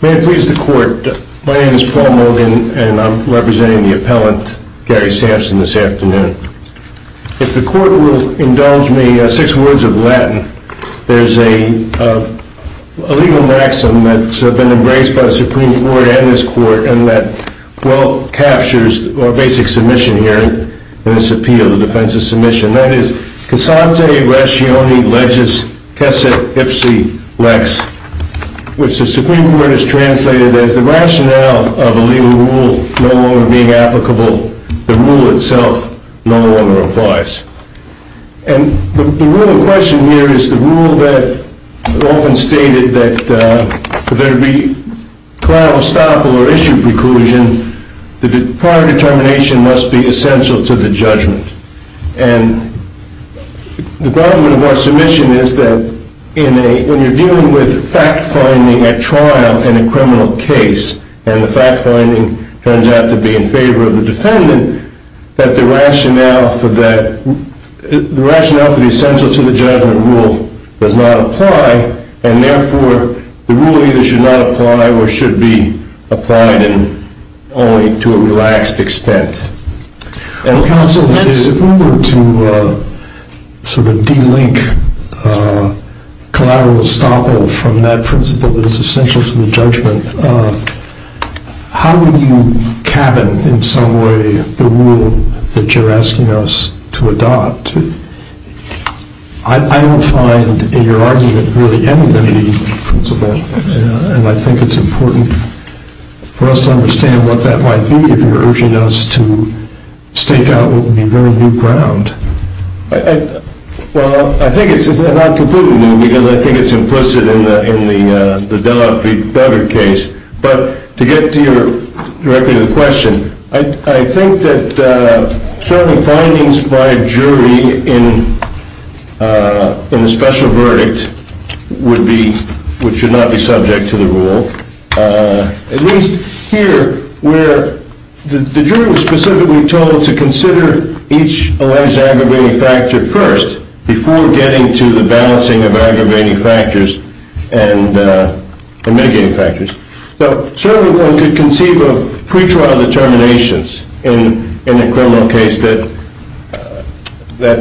May it please the court, my name is Paul Mogan and I'm representing the appellant Gary Sampson, If the court will indulge me, six words of Latin, there's a legal maxim that's been embraced by the Supreme Court and this court and that well captures our basic submission here in this appeal, the defense of submission, that is, casante ratione legis quesit ipsi lex, which the Supreme Court has translated as the rationale of a legal rule no longer being applicable, the rule itself no longer applies. And the rule of question here is the rule that is often stated that for there to be collateral estoppel or issue preclusion, the prior determination must be essential to the judgment. And the problem of our submission is that when you're dealing with fact-finding at trial in a criminal case and the fact-finding turns out to be in favor of the defendant, that the rationale for the essential to the judgment rule does not apply and therefore the rule either should not apply or should be applied only to a relaxed extent. Counsel, if we were to sort of de-link collateral estoppel from that principle that is essential to the judgment, how would you cabin in some way the rule that you're asking us to adopt? I don't find in your argument really any limiting principle and I think it's important for us to understand what that might be if you're urging us to stake out what would be very new ground. Well, I think it's not completely new because I think it's implicit in the Delafield-Bedard case, but to get directly to the question, I think that certain findings by a jury in a special verdict would be, which should not be subject to the rule. At least here where the jury was specifically told to consider each alleged aggravating factor first before getting to the balancing of aggravating factors and mitigating factors. So certainly one could conceive of pretrial determinations in a criminal case that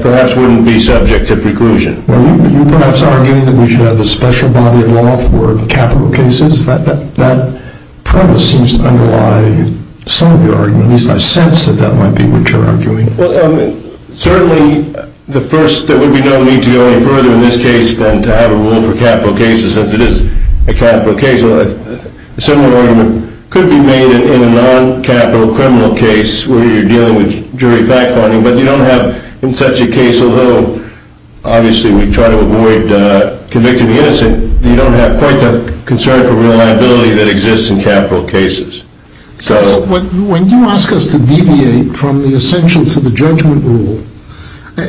perhaps wouldn't be subject to preclusion. Well, you're perhaps arguing that we should have a special body of law for capital cases. That premise seems to underlie some of your argument. At least I sense that that might be what you're arguing. Certainly, there would be no need to go any further in this case than to have a rule for capital cases, as it is a capital case. A similar argument could be made in a non-capital criminal case where you're dealing with jury fact finding, but you don't have in such a case, although obviously we try to avoid convicting the innocent, you don't have quite the concern for reliability that exists in capital cases. When you ask us to deviate from the essentials of the judgment rule,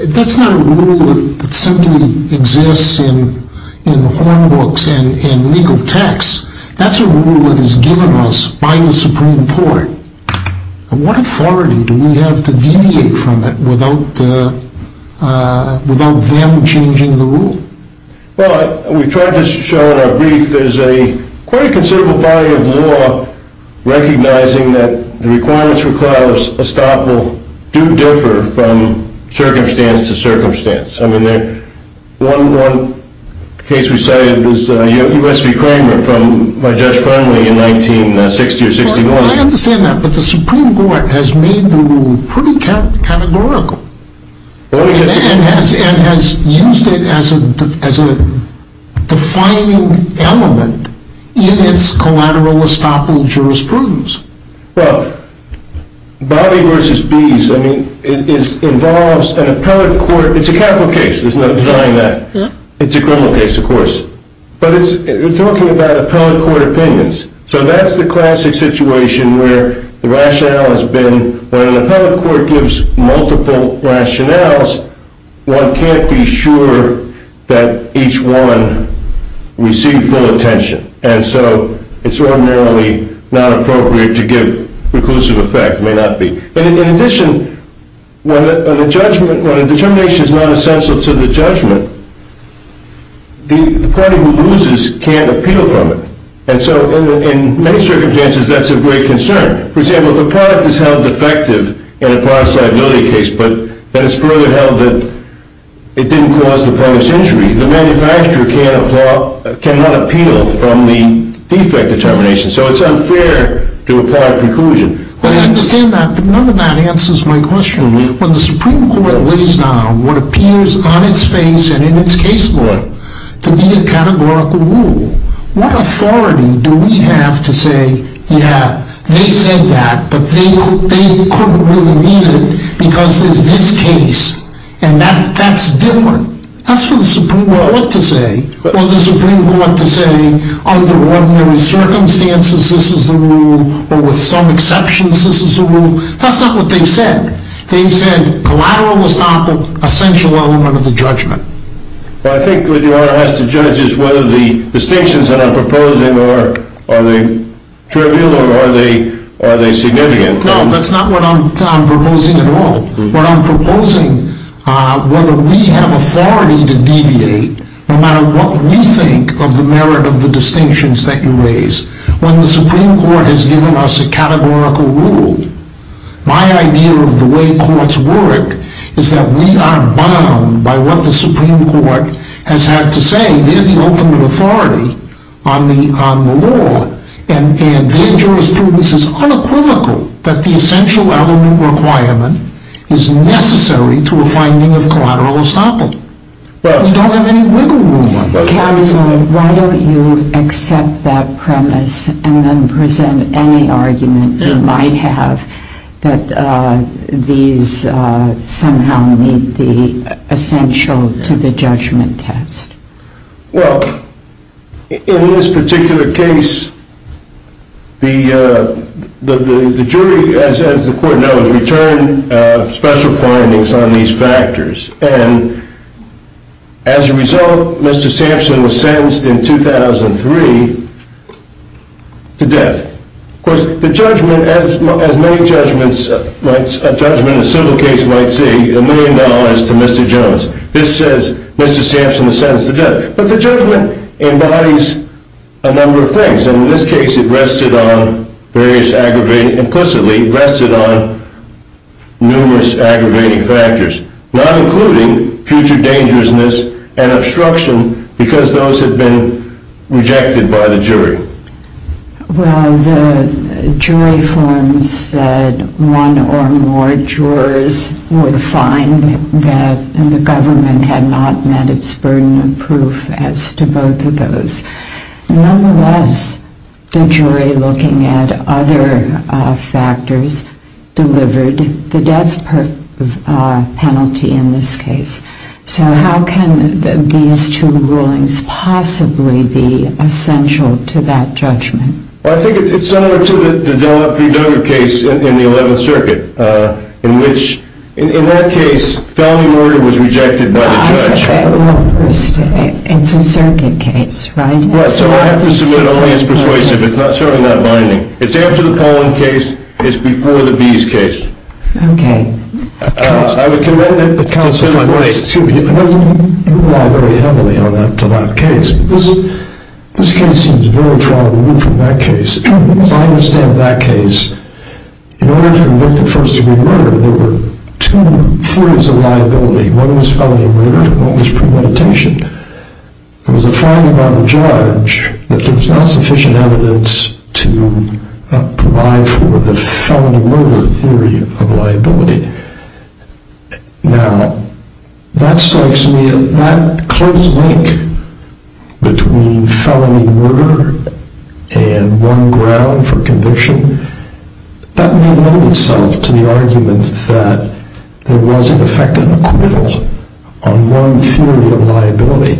that's not a rule that simply exists in horn books and legal texts. That's a rule that is given to us by the Supreme Court. What authority do we have to deviate from it without them changing the rule? Well, we've tried to show in our brief, there's quite a considerable body of law recognizing that the requirements for clause estoppel do differ from circumstance to circumstance. I mean, one case we cited was U.S. v. Kramer from my judge friendly in 1960 or 61. I understand that, but the Supreme Court has made the rule pretty categorical and has used it as a defining element in its collateral estoppel jurisprudence. Well, Bobby v. Bees, I mean, it involves an appellate court. It's a capital case. There's no denying that. It's a criminal case, of course. But it's talking about appellate court opinions. So that's the classic situation where the rationale has been when an appellate court gives multiple rationales, one can't be sure that each one received full attention. And so it's ordinarily not appropriate to give preclusive effect, may not be. In addition, when a determination is not essential to the judgment, the party who loses can't appeal from it. And so in many circumstances, that's of great concern. For example, if a product is held defective in a partisan ability case, but it's further held that it didn't cause the public's injury, the manufacturer cannot appeal from the defect determination. So it's unfair to apply preclusion. I understand that, but none of that answers my question. When the Supreme Court lays down what appears on its face and in its case law to be a categorical rule, what authority do we have to say, yeah, they said that, but they couldn't really mean it because there's this case, and that's different? That's for the Supreme Court to say, or the Supreme Court to say, under ordinary circumstances, this is the rule, or with some exceptions, this is the rule. That's not what they've said. They've said collateral is not the essential element of the judgment. Well, I think what the Honor has to judge is whether the distinctions that I'm proposing are trivial or are they significant. No, that's not what I'm proposing at all. What I'm proposing, whether we have authority to deviate, no matter what we think of the merit of the distinctions that you raise, when the Supreme Court has given us a categorical rule, my idea of the way courts work is that we are bound by what the Supreme Court has had to say. And that's what I'm proposing. I'm proposing that we have the ultimate authority on the law, and that the jurisprudence is unequivocal that the essential element requirement is necessary to a finding of collateral estoppel. Well, we don't have any wiggle room on that. Counsel, why don't you accept that premise and then present any argument you might have that these somehow meet the essential to the judgment test? Well, in this particular case, the jury, as the Court knows, returned special findings on these factors. And as a result, Mr. Sampson was sentenced in 2003 to death. Of course, the judgment, as many judgments, a judgment, a civil case might see, a million dollars to Mr. Jones. This says Mr. Sampson is sentenced to death. But the judgment embodies a number of things. And in this case, it rested on various aggravating, implicitly rested on numerous aggravating factors, not including future dangerousness and obstruction because those had been rejected by the jury. Well, the jury forms said one or more jurors would find that the government had not met its burden of proof as to both of those. Nonetheless, the jury, looking at other factors, delivered the death penalty in this case. So how can these two rulings possibly be essential to that judgment? Well, I think it's similar to the Duggar case in the 11th Circuit, in which, in that case, felony murder was rejected by the judge. I said that wrong first. It's a circuit case, right? Yeah, so I have to submit only as persuasive. It's not showing that binding. It's after the Pollen case. It's before the Bees case. Okay. I would commend it to my wife. Excuse me, you rely very heavily on that to that case. This case seems very far removed from that case. As I understand that case, in order to convict a first-degree murder, there were two forms of liability. One was felony murder and one was premeditation. There was a finding by the judge that there was not sufficient evidence to provide for the felony murder theory of liability. Now, that strikes me as that close link between felony murder and one ground for conviction. That may lend itself to the argument that there was, in effect, an equivalent on one theory of liability.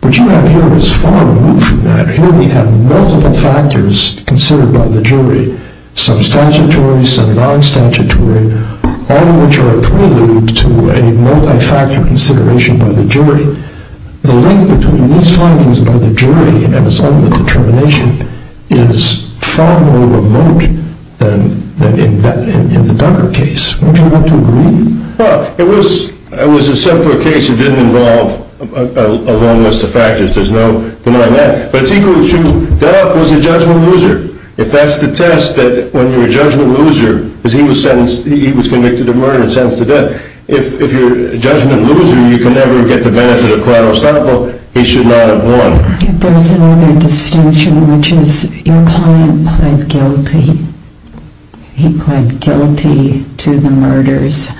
What you have here is far removed from that. Here we have multiple factors considered by the jury. Some statutory, some non-statutory, all of which are a prelude to a multi-factor consideration by the jury. The link between these findings by the jury and its own determination is far more remote than in the Ducker case. Would you agree? Well, it was a simpler case. It didn't involve a long list of factors. There's no denying that. But it's equal to, duh, it was a judgment loser. If that's the test, that when you're a judgment loser, because he was convicted of murder, sentenced to death. If you're a judgment loser, you can never get the benefit of collateral estoppel. He should not have won. There's another distinction, which is your client pled guilty. He pled guilty to the murders,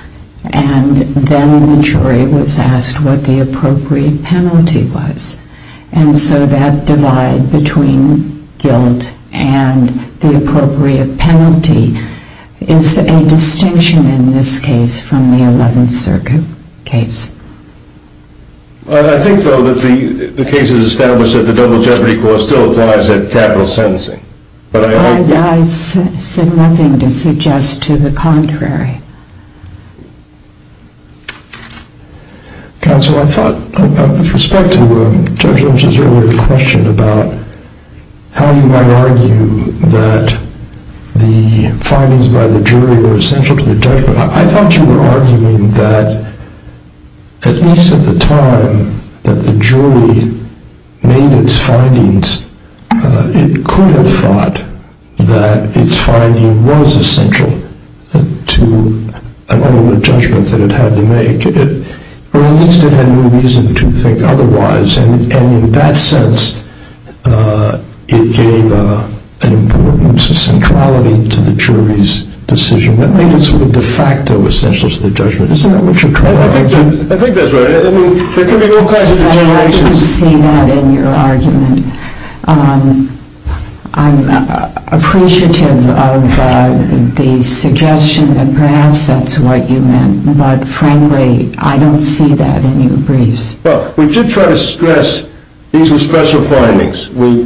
and then the jury was asked what the appropriate penalty was. And so that divide between guilt and the appropriate penalty is a distinction in this case from the Eleventh Circuit case. I think, though, that the case is established that the double jeopardy clause still applies at capital sentencing. I said nothing to suggest to the contrary. Counsel, I thought, with respect to Judge Lynch's earlier question about how you might argue that the findings by the jury were essential to the judgment, I thought you were arguing that, at least at the time that the jury made its findings, it could have thought that its finding was essential to an ultimate judgment that it had to make. Or at least it had no reason to think otherwise. And in that sense, it gave an importance, a centrality to the jury's decision. That made it sort of de facto essential to the judgment. Isn't that what you're trying to argue? I think that's right. I mean, there could be all kinds of situations. I don't see that in your argument. I'm appreciative of the suggestion that perhaps that's what you meant, but frankly, I don't see that in your briefs. Well, we did try to stress these were special findings. We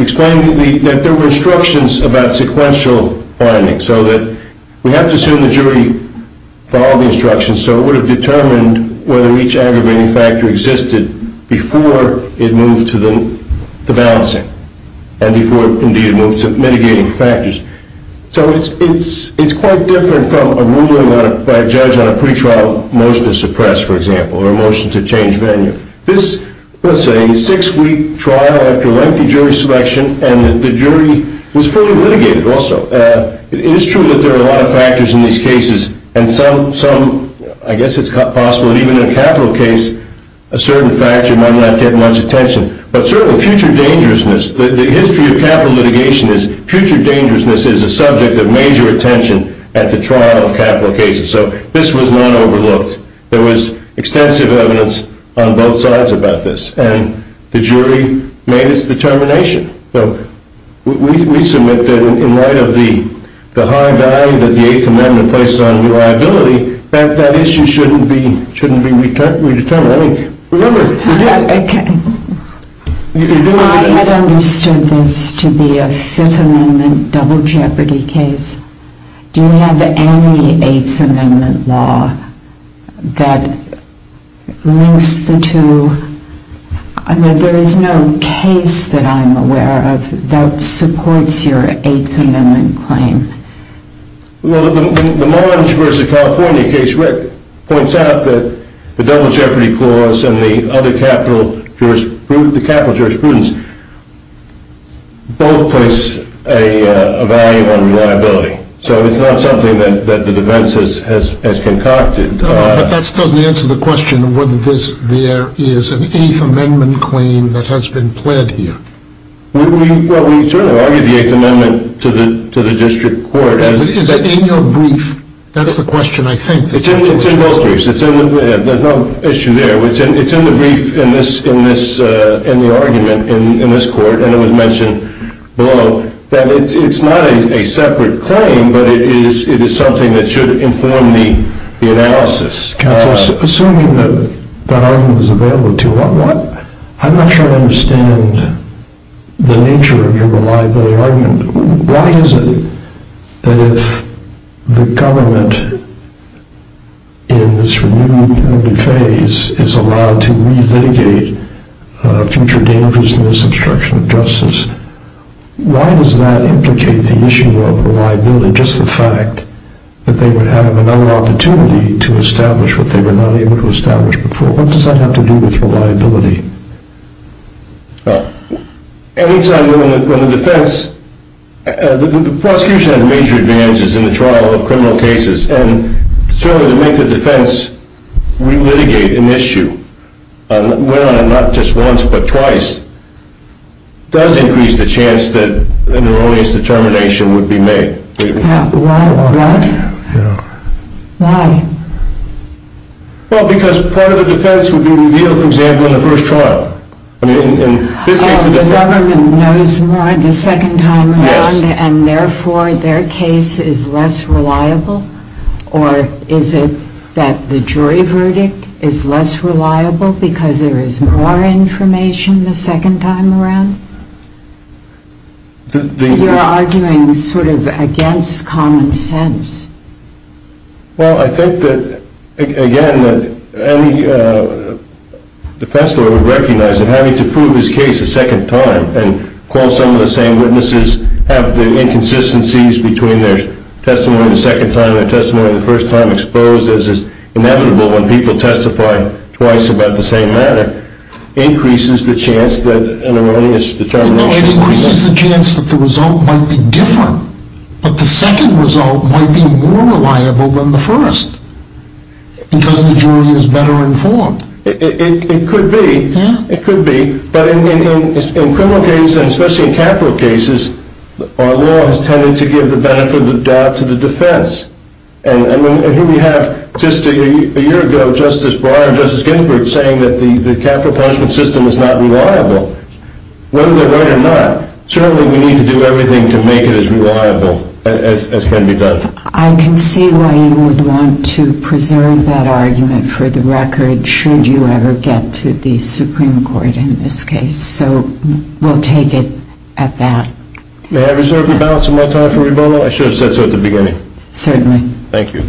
explained that there were instructions about sequential findings, so that we have to assume the jury followed the instructions. So it would have determined whether each aggravating factor existed before it moved to the balancing and before, indeed, it moved to mitigating factors. So it's quite different from a ruling by a judge on a pretrial motion to suppress, for example, or a motion to change venue. This, let's say, is a six-week trial after lengthy jury selection, and the jury was fully litigated also. It is true that there are a lot of factors in these cases, and some, I guess it's possible that even in a capital case, a certain factor might not get much attention. But certainly, future dangerousness, the history of capital litigation is future dangerousness is a subject of major attention at the trial of capital cases. So this was not overlooked. There was extensive evidence on both sides about this, and the jury made its determination. So we submit that in light of the high value that the Eighth Amendment places on reliability, that issue shouldn't be redetermined. I had understood this to be a Fifth Amendment double jeopardy case. Do you have any Eighth Amendment law that links the two? There is no case that I'm aware of that supports your Eighth Amendment claim. Well, the Marge v. California case, Rick, points out that the double jeopardy clause and the capital jurisprudence both place a value on reliability. So it's not something that the defense has concocted. But that still doesn't answer the question of whether there is an Eighth Amendment claim that has been pled here. Well, we certainly argued the Eighth Amendment to the district court. But is it in your brief? That's the question, I think. It's in both briefs. There's no issue there. It's in the brief in the argument in this court, and it was mentioned below, that it's not a separate claim, but it is something that should inform the analysis. Assuming that that argument is available to you, I'm not sure I understand the nature of your reliability argument. Why is it that if the government, in this renewed phase, is allowed to re-litigate future dangers in this obstruction of justice, why does that implicate the issue of reliability, just the fact that they would have another opportunity to establish what they were not able to establish before? What does that have to do with reliability? Well, any time when the defense – the prosecution has major advantages in the trial of criminal cases. And certainly to make the defense re-litigate an issue, not just once but twice, does increase the chance that an erroneous determination would be made. Why? Well, because part of the defense would be revealed, for example, in the first trial. The government knows more the second time around, and therefore their case is less reliable? Or is it that the jury verdict is less reliable because there is more information the second time around? You're arguing sort of against common sense. Well, I think that, again, any defense lawyer would recognize that having to prove his case a second time and call some of the same witnesses, have the inconsistencies between their testimony the second time and their testimony the first time exposed as is inevitable when people testify twice about the same matter, increases the chance that an erroneous determination would be made. No, it increases the chance that the result might be different, but the second result might be more reliable than the first, because the jury is better informed. It could be. It could be. But in criminal cases, and especially in capital cases, our law has tended to give the benefit of the doubt to the defense. And here we have, just a year ago, Justice Breyer and Justice Ginsburg saying that the capital punishment system is not reliable. Whether they're right or not, certainly we need to do everything to make it as reliable as can be done. I can see why you would want to preserve that argument for the record, should you ever get to the Supreme Court in this case. So we'll take it at that. May I reserve the balance of my time for rebuttal? I should have said so at the beginning. Certainly. Thank you.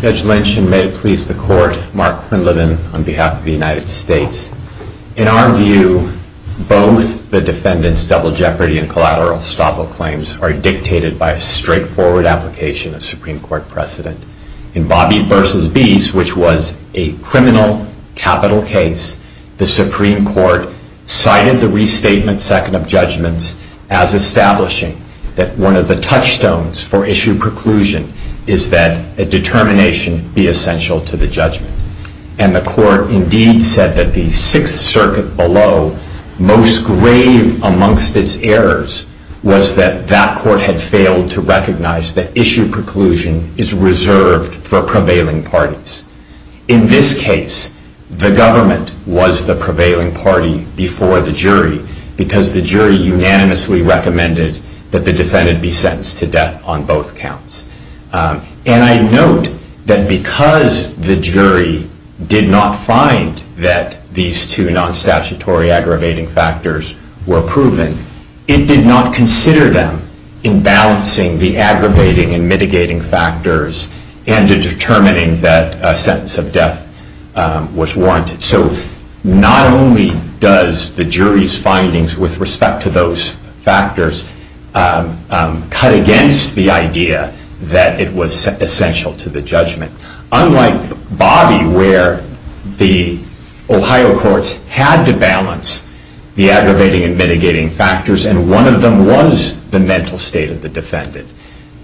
Judge Lynch, and may it please the Court, Mark Quinlivan on behalf of the United States. In our view, both the defendant's double jeopardy and collateral estoppel claims are dictated by a straightforward application of Supreme Court precedent. In Bobby v. Beese, which was a criminal capital case, the Supreme Court cited the restatement second of judgments as establishing that one of the touchstones for issue preclusion is that a determination be essential to the judgment. And the Court indeed said that the Sixth Circuit below, most grave amongst its errors, was that that Court had failed to recognize that issue preclusion is reserved for prevailing parties. In this case, the government was the prevailing party before the jury, because the jury unanimously recommended that the defendant be sentenced to death on both counts. And I note that because the jury did not find that these two non-statutory aggravating factors were proven, it did not consider them in balancing the aggravating and mitigating factors and determining that a sentence of death was warranted. So not only does the jury's findings with respect to those factors cut against the idea that it was essential to the judgment. Unlike Bobby, where the Ohio courts had to balance the aggravating and mitigating factors, and one of them was the mental state of the defendant,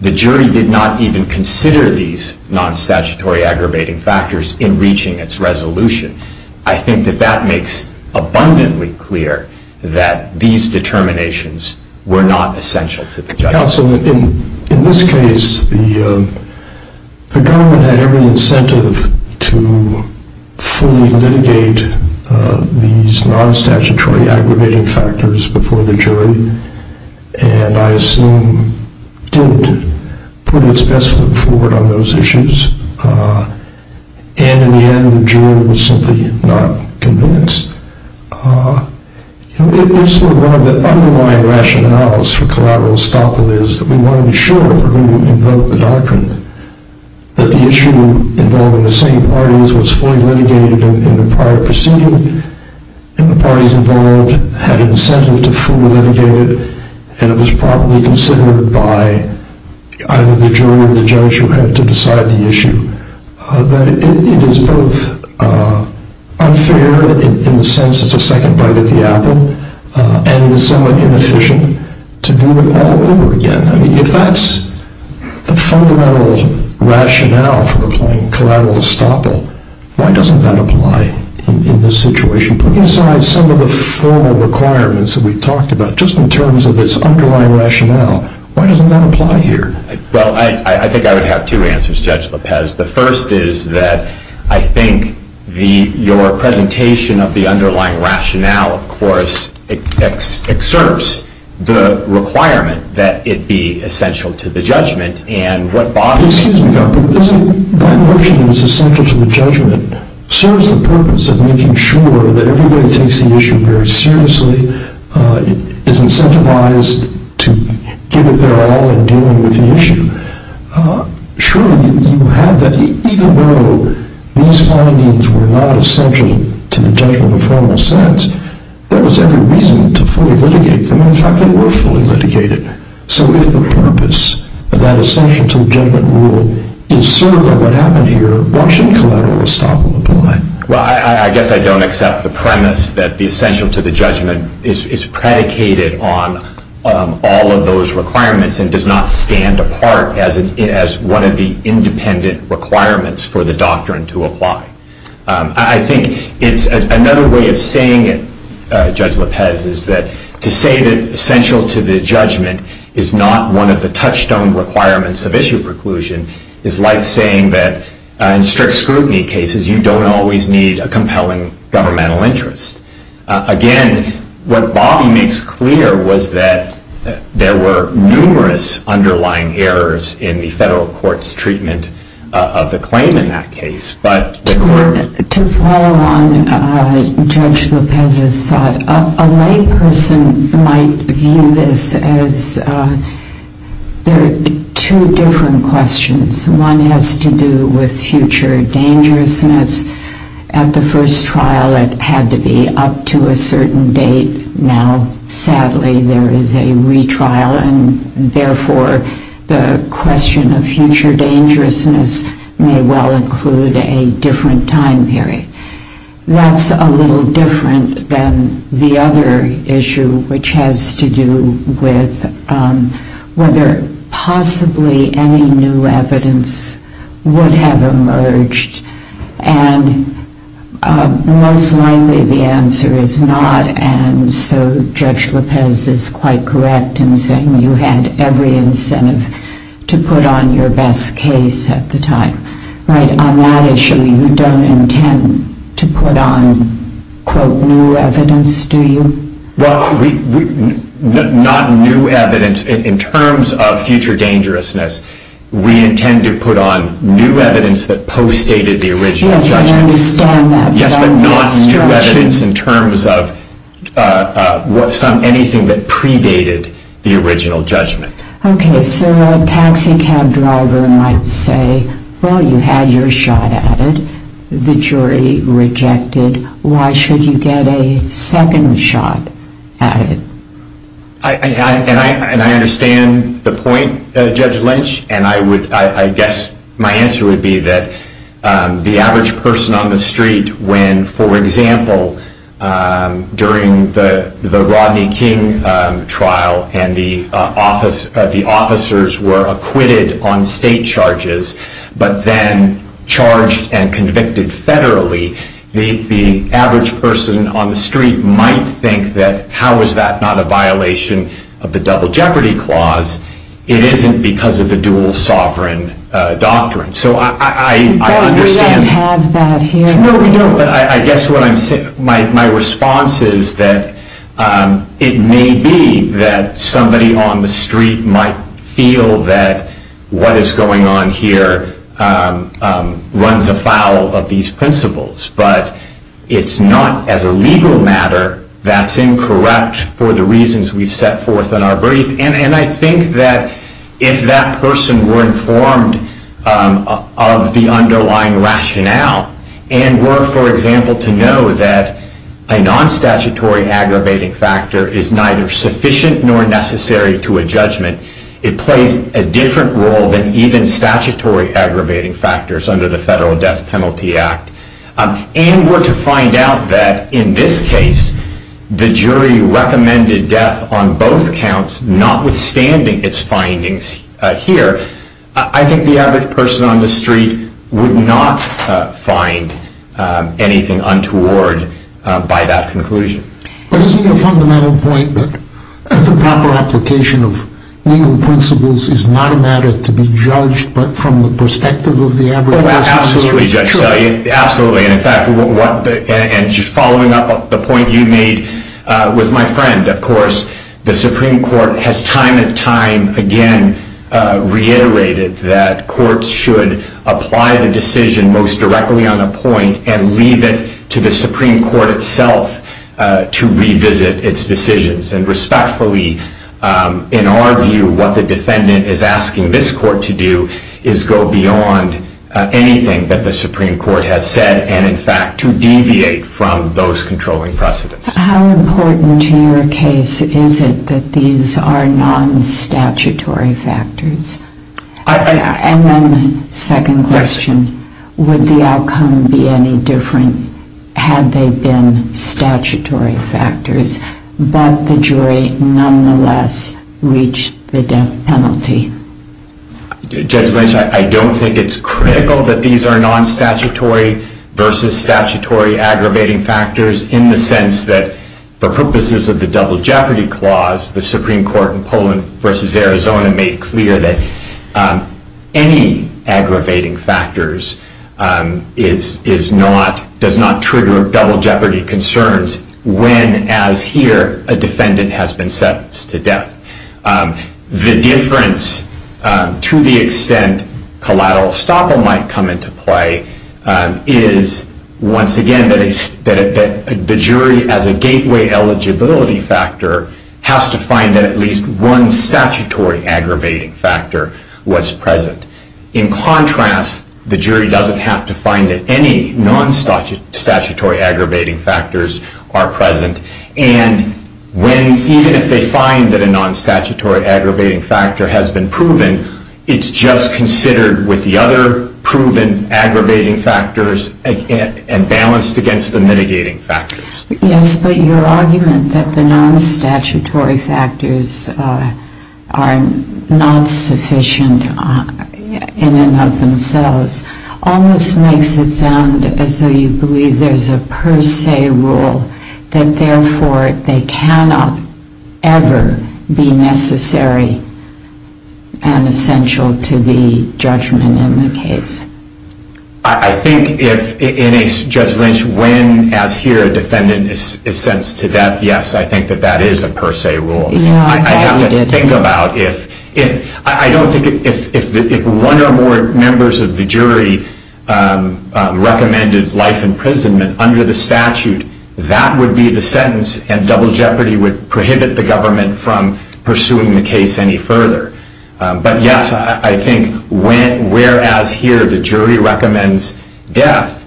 the jury did not even consider these non-statutory aggravating factors in reaching its resolution. I think that that makes abundantly clear that these determinations were not essential to the judgment. Counsel, in this case, the government had every incentive to fully litigate these non-statutory aggravating factors before the jury, and I assume did put its best foot forward on those issues. And in the end, the jury was simply not convinced. One of the underlying rationales for collateral estoppel is that we want to be sure who invoked the doctrine, that the issue involving the same parties was fully litigated in the prior proceeding, and the parties involved had incentive to fully litigate it, and it was properly considered by either the jury or the judge who had to decide the issue, that it is both unfair in the sense that it's a second bite at the apple, and it is somewhat inefficient to do it all over again. If that's the fundamental rationale for applying collateral estoppel, why doesn't that apply in this situation? Put aside some of the formal requirements that we talked about, just in terms of its underlying rationale, why doesn't that apply here? Well, I think I would have two answers, Judge Lopez. The first is that I think your presentation of the underlying rationale, of course, exerts the requirement that it be essential to the judgment. And what Bob is suggesting about this, by virtue of its essential to the judgment, serves the purpose of making sure that everybody takes the issue very seriously, is incentivized to give it their all in dealing with the issue. Surely you have that. Even though these findings were not essential to the judgment in a formal sense, there was every reason to fully litigate them. In fact, they were fully litigated. So if the purpose of that essential to the judgment rule is served by what happened here, why shouldn't collateral estoppel apply? Well, I guess I don't accept the premise that the essential to the judgment is predicated on all of those requirements and does not stand apart as one of the independent requirements for the doctrine to apply. I think it's another way of saying it, Judge Lopez, is that to say that essential to the judgment is not one of the touchstone requirements of issue preclusion is like saying that in strict scrutiny cases you don't always need a compelling governmental interest. Again, what Bob makes clear was that there were numerous underlying errors in the federal court's treatment of the claim in that case. To follow on Judge Lopez's thought, a lay person might view this as there are two different questions. One has to do with future dangerousness. At the first trial it had to be up to a certain date. Now, sadly, there is a retrial, and therefore the question of future dangerousness may well include a different time period. That's a little different than the other issue, which has to do with whether possibly any new evidence would have emerged, and most likely the answer is not, and so Judge Lopez is quite correct in saying you had every incentive to put on your best case at the time. On that issue, you don't intend to put on, quote, new evidence, do you? Well, not new evidence. In terms of future dangerousness, we intend to put on new evidence that postdated the original judgment. Yes, I understand that. Yes, but not new evidence in terms of anything that predated the original judgment. Okay, so a taxi cab driver might say, well, you had your shot at it. The jury rejected. Why should you get a second shot at it? And I understand the point, Judge Lynch, and I guess my answer would be that the average person on the street when, for example, during the Rodney King trial and the officers were acquitted on state charges but then charged and convicted federally, the average person on the street might think that, how is that not a violation of the Double Jeopardy Clause? It isn't because of the dual sovereign doctrine. But we don't have that here. No, we don't, but I guess what I'm saying, my response is that it may be that somebody on the street might feel that what is going on here runs afoul of these principles, but it's not as a legal matter that's incorrect for the reasons we've set forth in our brief. And I think that if that person were informed of the underlying rationale and were, for example, to know that a non-statutory aggravating factor is neither sufficient nor necessary to a judgment, it plays a different role than even statutory aggravating factors under the Federal Death Penalty Act, and were to find out that, in this case, the jury recommended death on both counts, notwithstanding its findings here, I think the average person on the street would not find anything untoward by that conclusion. But isn't the fundamental point that the proper application of legal principles is not a matter to be judged, but from the perspective of the average person on the street? Absolutely, Judge Selye. Absolutely. And just following up the point you made with my friend, of course, the Supreme Court has time and time again reiterated that courts should apply the decision most directly on a point and leave it to the Supreme Court itself to revisit its decisions. And respectfully, in our view, what the defendant is asking this court to do is go beyond anything that the Supreme Court has said and, in fact, to deviate from those controlling precedents. How important to your case is it that these are non-statutory factors? And then, second question, would the outcome be any different had they been statutory factors, but the jury nonetheless reached the death penalty? Judge Lynch, I don't think it's critical that these are non-statutory versus statutory aggravating factors in the sense that for purposes of the double jeopardy clause, the Supreme Court in Poland versus Arizona made clear that any aggravating factors does not trigger double jeopardy concerns when, as here, a defendant has been sentenced to death. The difference to the extent collateral estoppel might come into play is, once again, that the jury, as a gateway eligibility factor, has to find that at least one statutory aggravating factor was present. In contrast, the jury doesn't have to find that any non-statutory aggravating factors are present. And even if they find that a non-statutory aggravating factor has been proven, it's just considered with the other proven aggravating factors and balanced against the mitigating factors. Yes, but your argument that the non-statutory factors are not sufficient in and of themselves almost makes it sound as though you believe there's a per se rule that, therefore, they cannot ever be necessary and essential to the judgment in the case. I think in a judgment when, as here, a defendant is sentenced to death, yes, I think that that is a per se rule. I have to think about if one or more members of the jury recommended life imprisonment under the statute, that would be the sentence, and double jeopardy would prohibit the government from pursuing the case any further. But yes, I think whereas here the jury recommends death,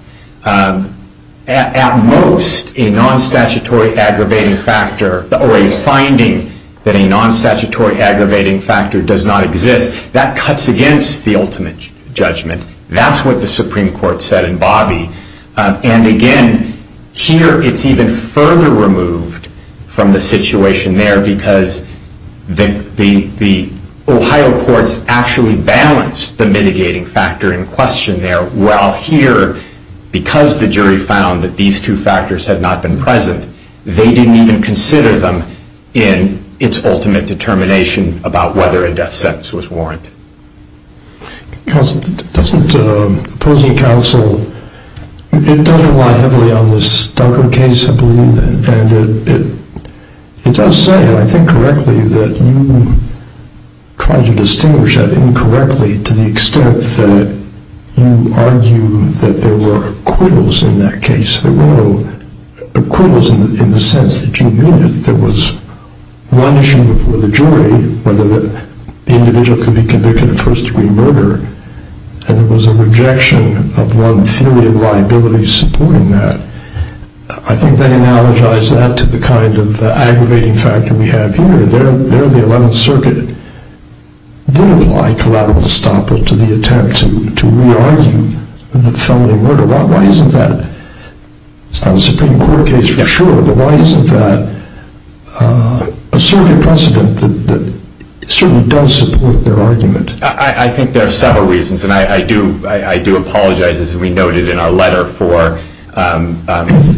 at most a non-statutory aggravating factor, or a finding that a non-statutory aggravating factor does not exist, that cuts against the ultimate judgment. That's what the Supreme Court said in Bobby. And again, here it's even further removed from the situation there because the Ohio courts actually balanced the mitigating factor in question there, while here, because the jury found that these two factors had not been present, they didn't even consider them in its ultimate determination about whether a death sentence was warranted. Counsel, doesn't opposing counsel, it doesn't lie heavily on this Dunker case, I believe, and it does say, and I think correctly, that you try to distinguish that incorrectly to the extent that you argue that there were acquittals in that case. There were no acquittals in the sense that you knew that there was one issue before the jury, whether the individual could be convicted of first-degree murder, and there was a rejection of one theory of liability supporting that. I think they analogize that to the kind of aggravating factor we have here. There the Eleventh Circuit did apply collateral estoppel to the attempt to re-argue the felony murder. Why isn't that, it's not a Supreme Court case for sure, but why isn't that a circuit precedent that certainly does support their argument? I think there are several reasons, and I do apologize, as we noted in our letter, for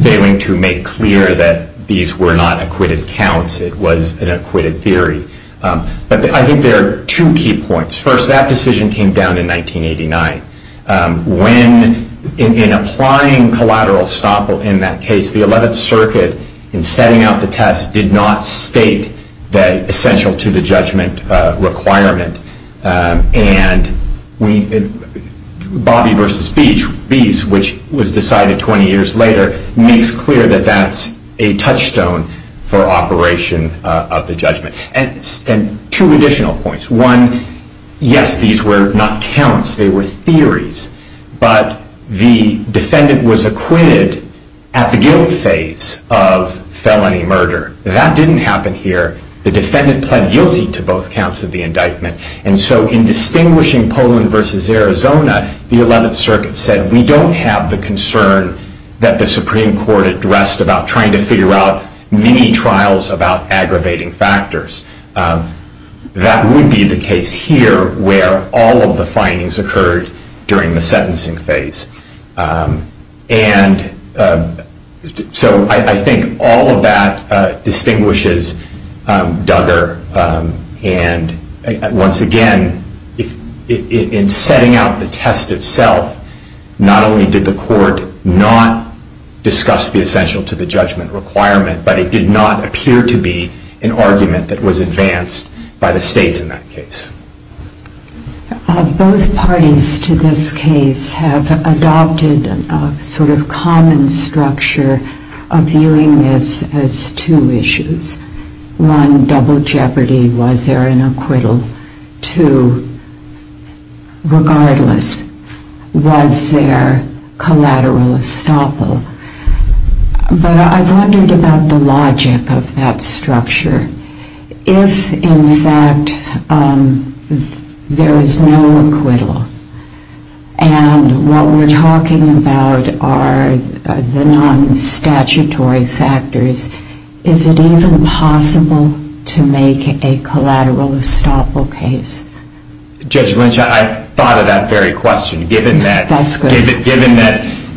failing to make clear that these were not acquitted counts, it was an acquitted theory. But I think there are two key points. First, that decision came down in 1989. When, in applying collateral estoppel in that case, the Eleventh Circuit, in setting out the test, did not state that essential to the judgment requirement. And Bobby v. Beese, which was decided 20 years later, makes clear that that's a touchstone for operation of the judgment. And two additional points. One, yes, these were not counts, they were theories, but the defendant was acquitted at the guilt phase of felony murder. That didn't happen here. The defendant pled guilty to both counts of the indictment. And so in distinguishing Poland v. Arizona, the Eleventh Circuit said, we don't have the concern that the Supreme Court addressed about trying to figure out many trials about aggravating factors. That would be the case here, where all of the findings occurred during the sentencing phase. And so I think all of that distinguishes Duggar. And once again, in setting out the test itself, not only did the court not discuss the essential to the judgment requirement, but it did not appear to be an argument that was advanced by the state in that case. Both parties to this case have adopted a sort of common structure of viewing this as two issues. One, double jeopardy, was there an acquittal? Two, regardless, was there collateral estoppel? But I've wondered about the logic of that structure. If, in fact, there is no acquittal, and what we're talking about are the non-statutory factors, is it even possible to make a collateral estoppel case? Judge Lynch, I thought of that very question, given that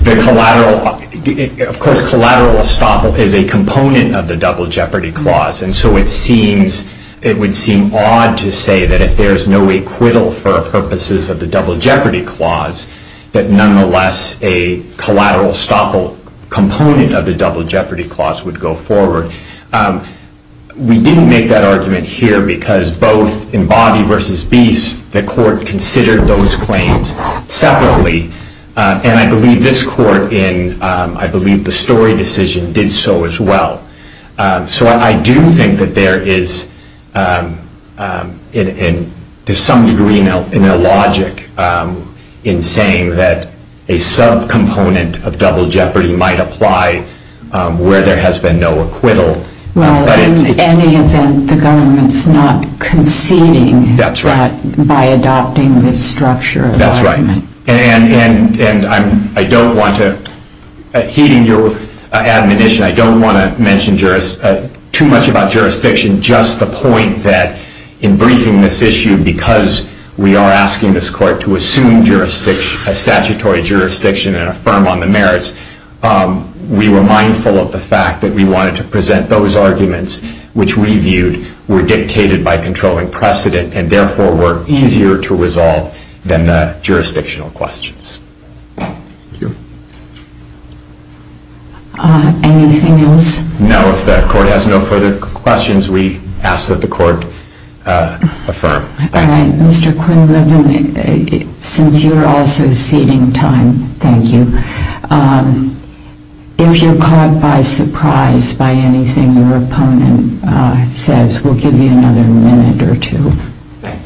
the collateral, of course, collateral estoppel is a component of the double jeopardy clause. And so it would seem odd to say that if there's no acquittal for purposes of the double jeopardy clause, that nonetheless, a collateral estoppel component of the double jeopardy clause would go forward. We didn't make that argument here, because both in Bobby versus Beast, the court considered those claims separately. And I believe this court in, I believe, the Story decision, did so as well. So I do think that there is, to some degree, a logic in saying that a sub-component of double jeopardy might apply where there has been no acquittal. Well, in any event, the government's not conceding by adopting this structure of argument. That's right. And I don't want to, heeding your admonition, I don't want to mention too much about jurisdiction, just the point that, in briefing this issue, because we are asking this court to assume a statutory jurisdiction and affirm on the merits, we were mindful of the fact that we wanted to present those arguments, which we viewed were dictated by controlling precedent, and therefore were easier to resolve than the jurisdictional questions. Thank you. Anything else? No. If the court has no further questions, we ask that the court affirm. All right. Mr. Quinlivan, since you're also ceding time, thank you. If you're caught by surprise by anything your opponent says, we'll give you another minute or two. Thank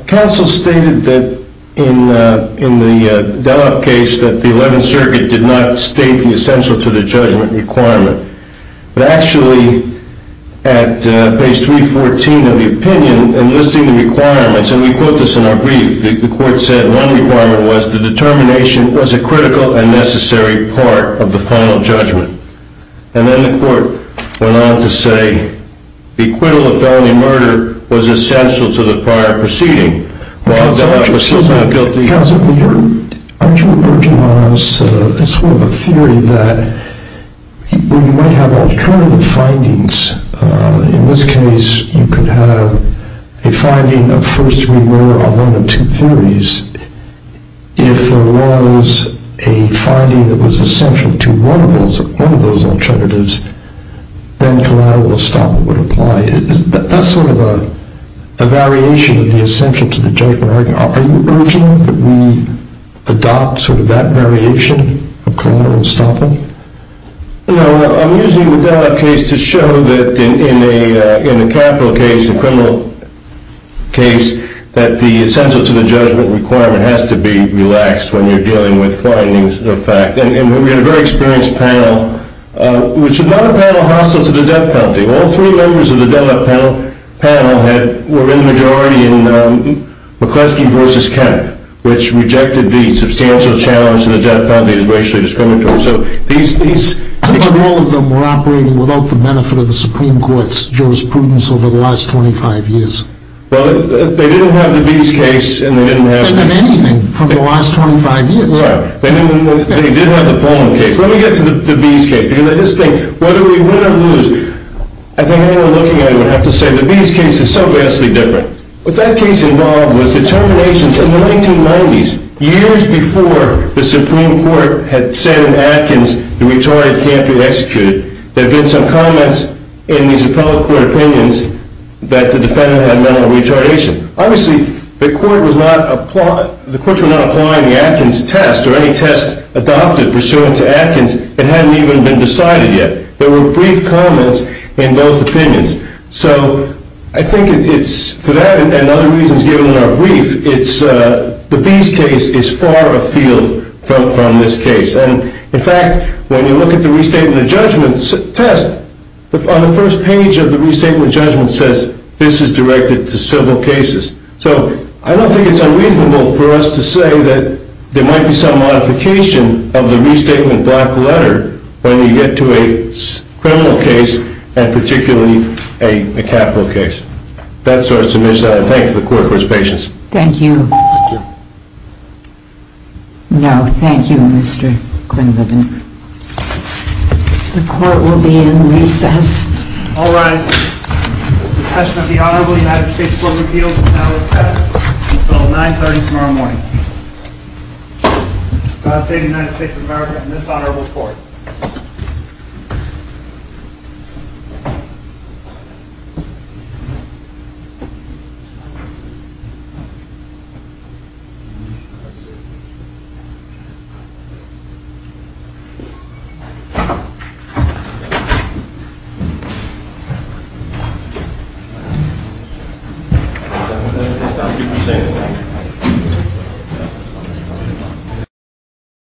you. Counsel stated that, in the Dellop case, that the Eleventh Circuit did not state the essential to the judgment requirement. But actually, at page 314 of the opinion, in listing the requirements, and we quote this in our brief, the court said one requirement was the determination was a critical and necessary part of the final judgment. And then the court went on to say the acquittal of felony murder was essential to the prior proceeding. While Dellop was still found guilty. Counsel, aren't you urging on us a sort of a theory that we might have alternative findings? In this case, you could have a finding of first degree murder on one of two theories. If there was a finding that was essential to one of those alternatives, then collateral will stop would apply. That's sort of a variation of the essential to the judgment argument. Are you urging that we adopt sort of that variation of collateral stopping? No, I'm using the Dellop case to show that in the capital case, the criminal case, that the essential to the judgment requirement has to be relaxed when you're dealing with findings of fact. And we had a very experienced panel, which is not a panel hostile to the death penalty. All three members of the Dellop panel were in the majority in McCleskey v. Kemp, which rejected the substantial challenge to the death penalty as racially discriminatory. So these things. But all of them were operating without the benefit of the Supreme Court's jurisprudence over the last 25 years. Well, they didn't have the Bees case, and they didn't have the- They didn't have anything from the last 25 years. Right. They didn't have the Pullman case. Let me get to the Bees case. Because I just think whether we win or lose, I think anyone looking at it would have to say, the Bees case is so vastly different. What that case involved was determinations in the 1990s, years before the Supreme Court had said in Atkins, the retarded can't be executed. There had been some comments in these appellate court opinions that the defendant had mental retardation. Obviously, the courts were not applying the Atkins test or any test adopted pursuant to Atkins that hadn't even been decided yet. There were brief comments in both opinions. So I think it's for that and other reasons given in our brief, the Bees case is far afield from this case. And in fact, when you look at the restatement judgment test, on the first page of the restatement judgment says, this is directed to civil cases. So I don't think it's unreasonable for us to say that there might be some modification of the restatement when you get to a criminal case and particularly a capital case. That's our submission. I thank the court for its patience. Thank you. Thank you. No, thank you Mr. Quinlivan. The court will be in recess. All rise. The session of the honorable United States court repeals now has passed. We'll call 930 tomorrow morning. God save the United States of America and this honorable court. Thank you.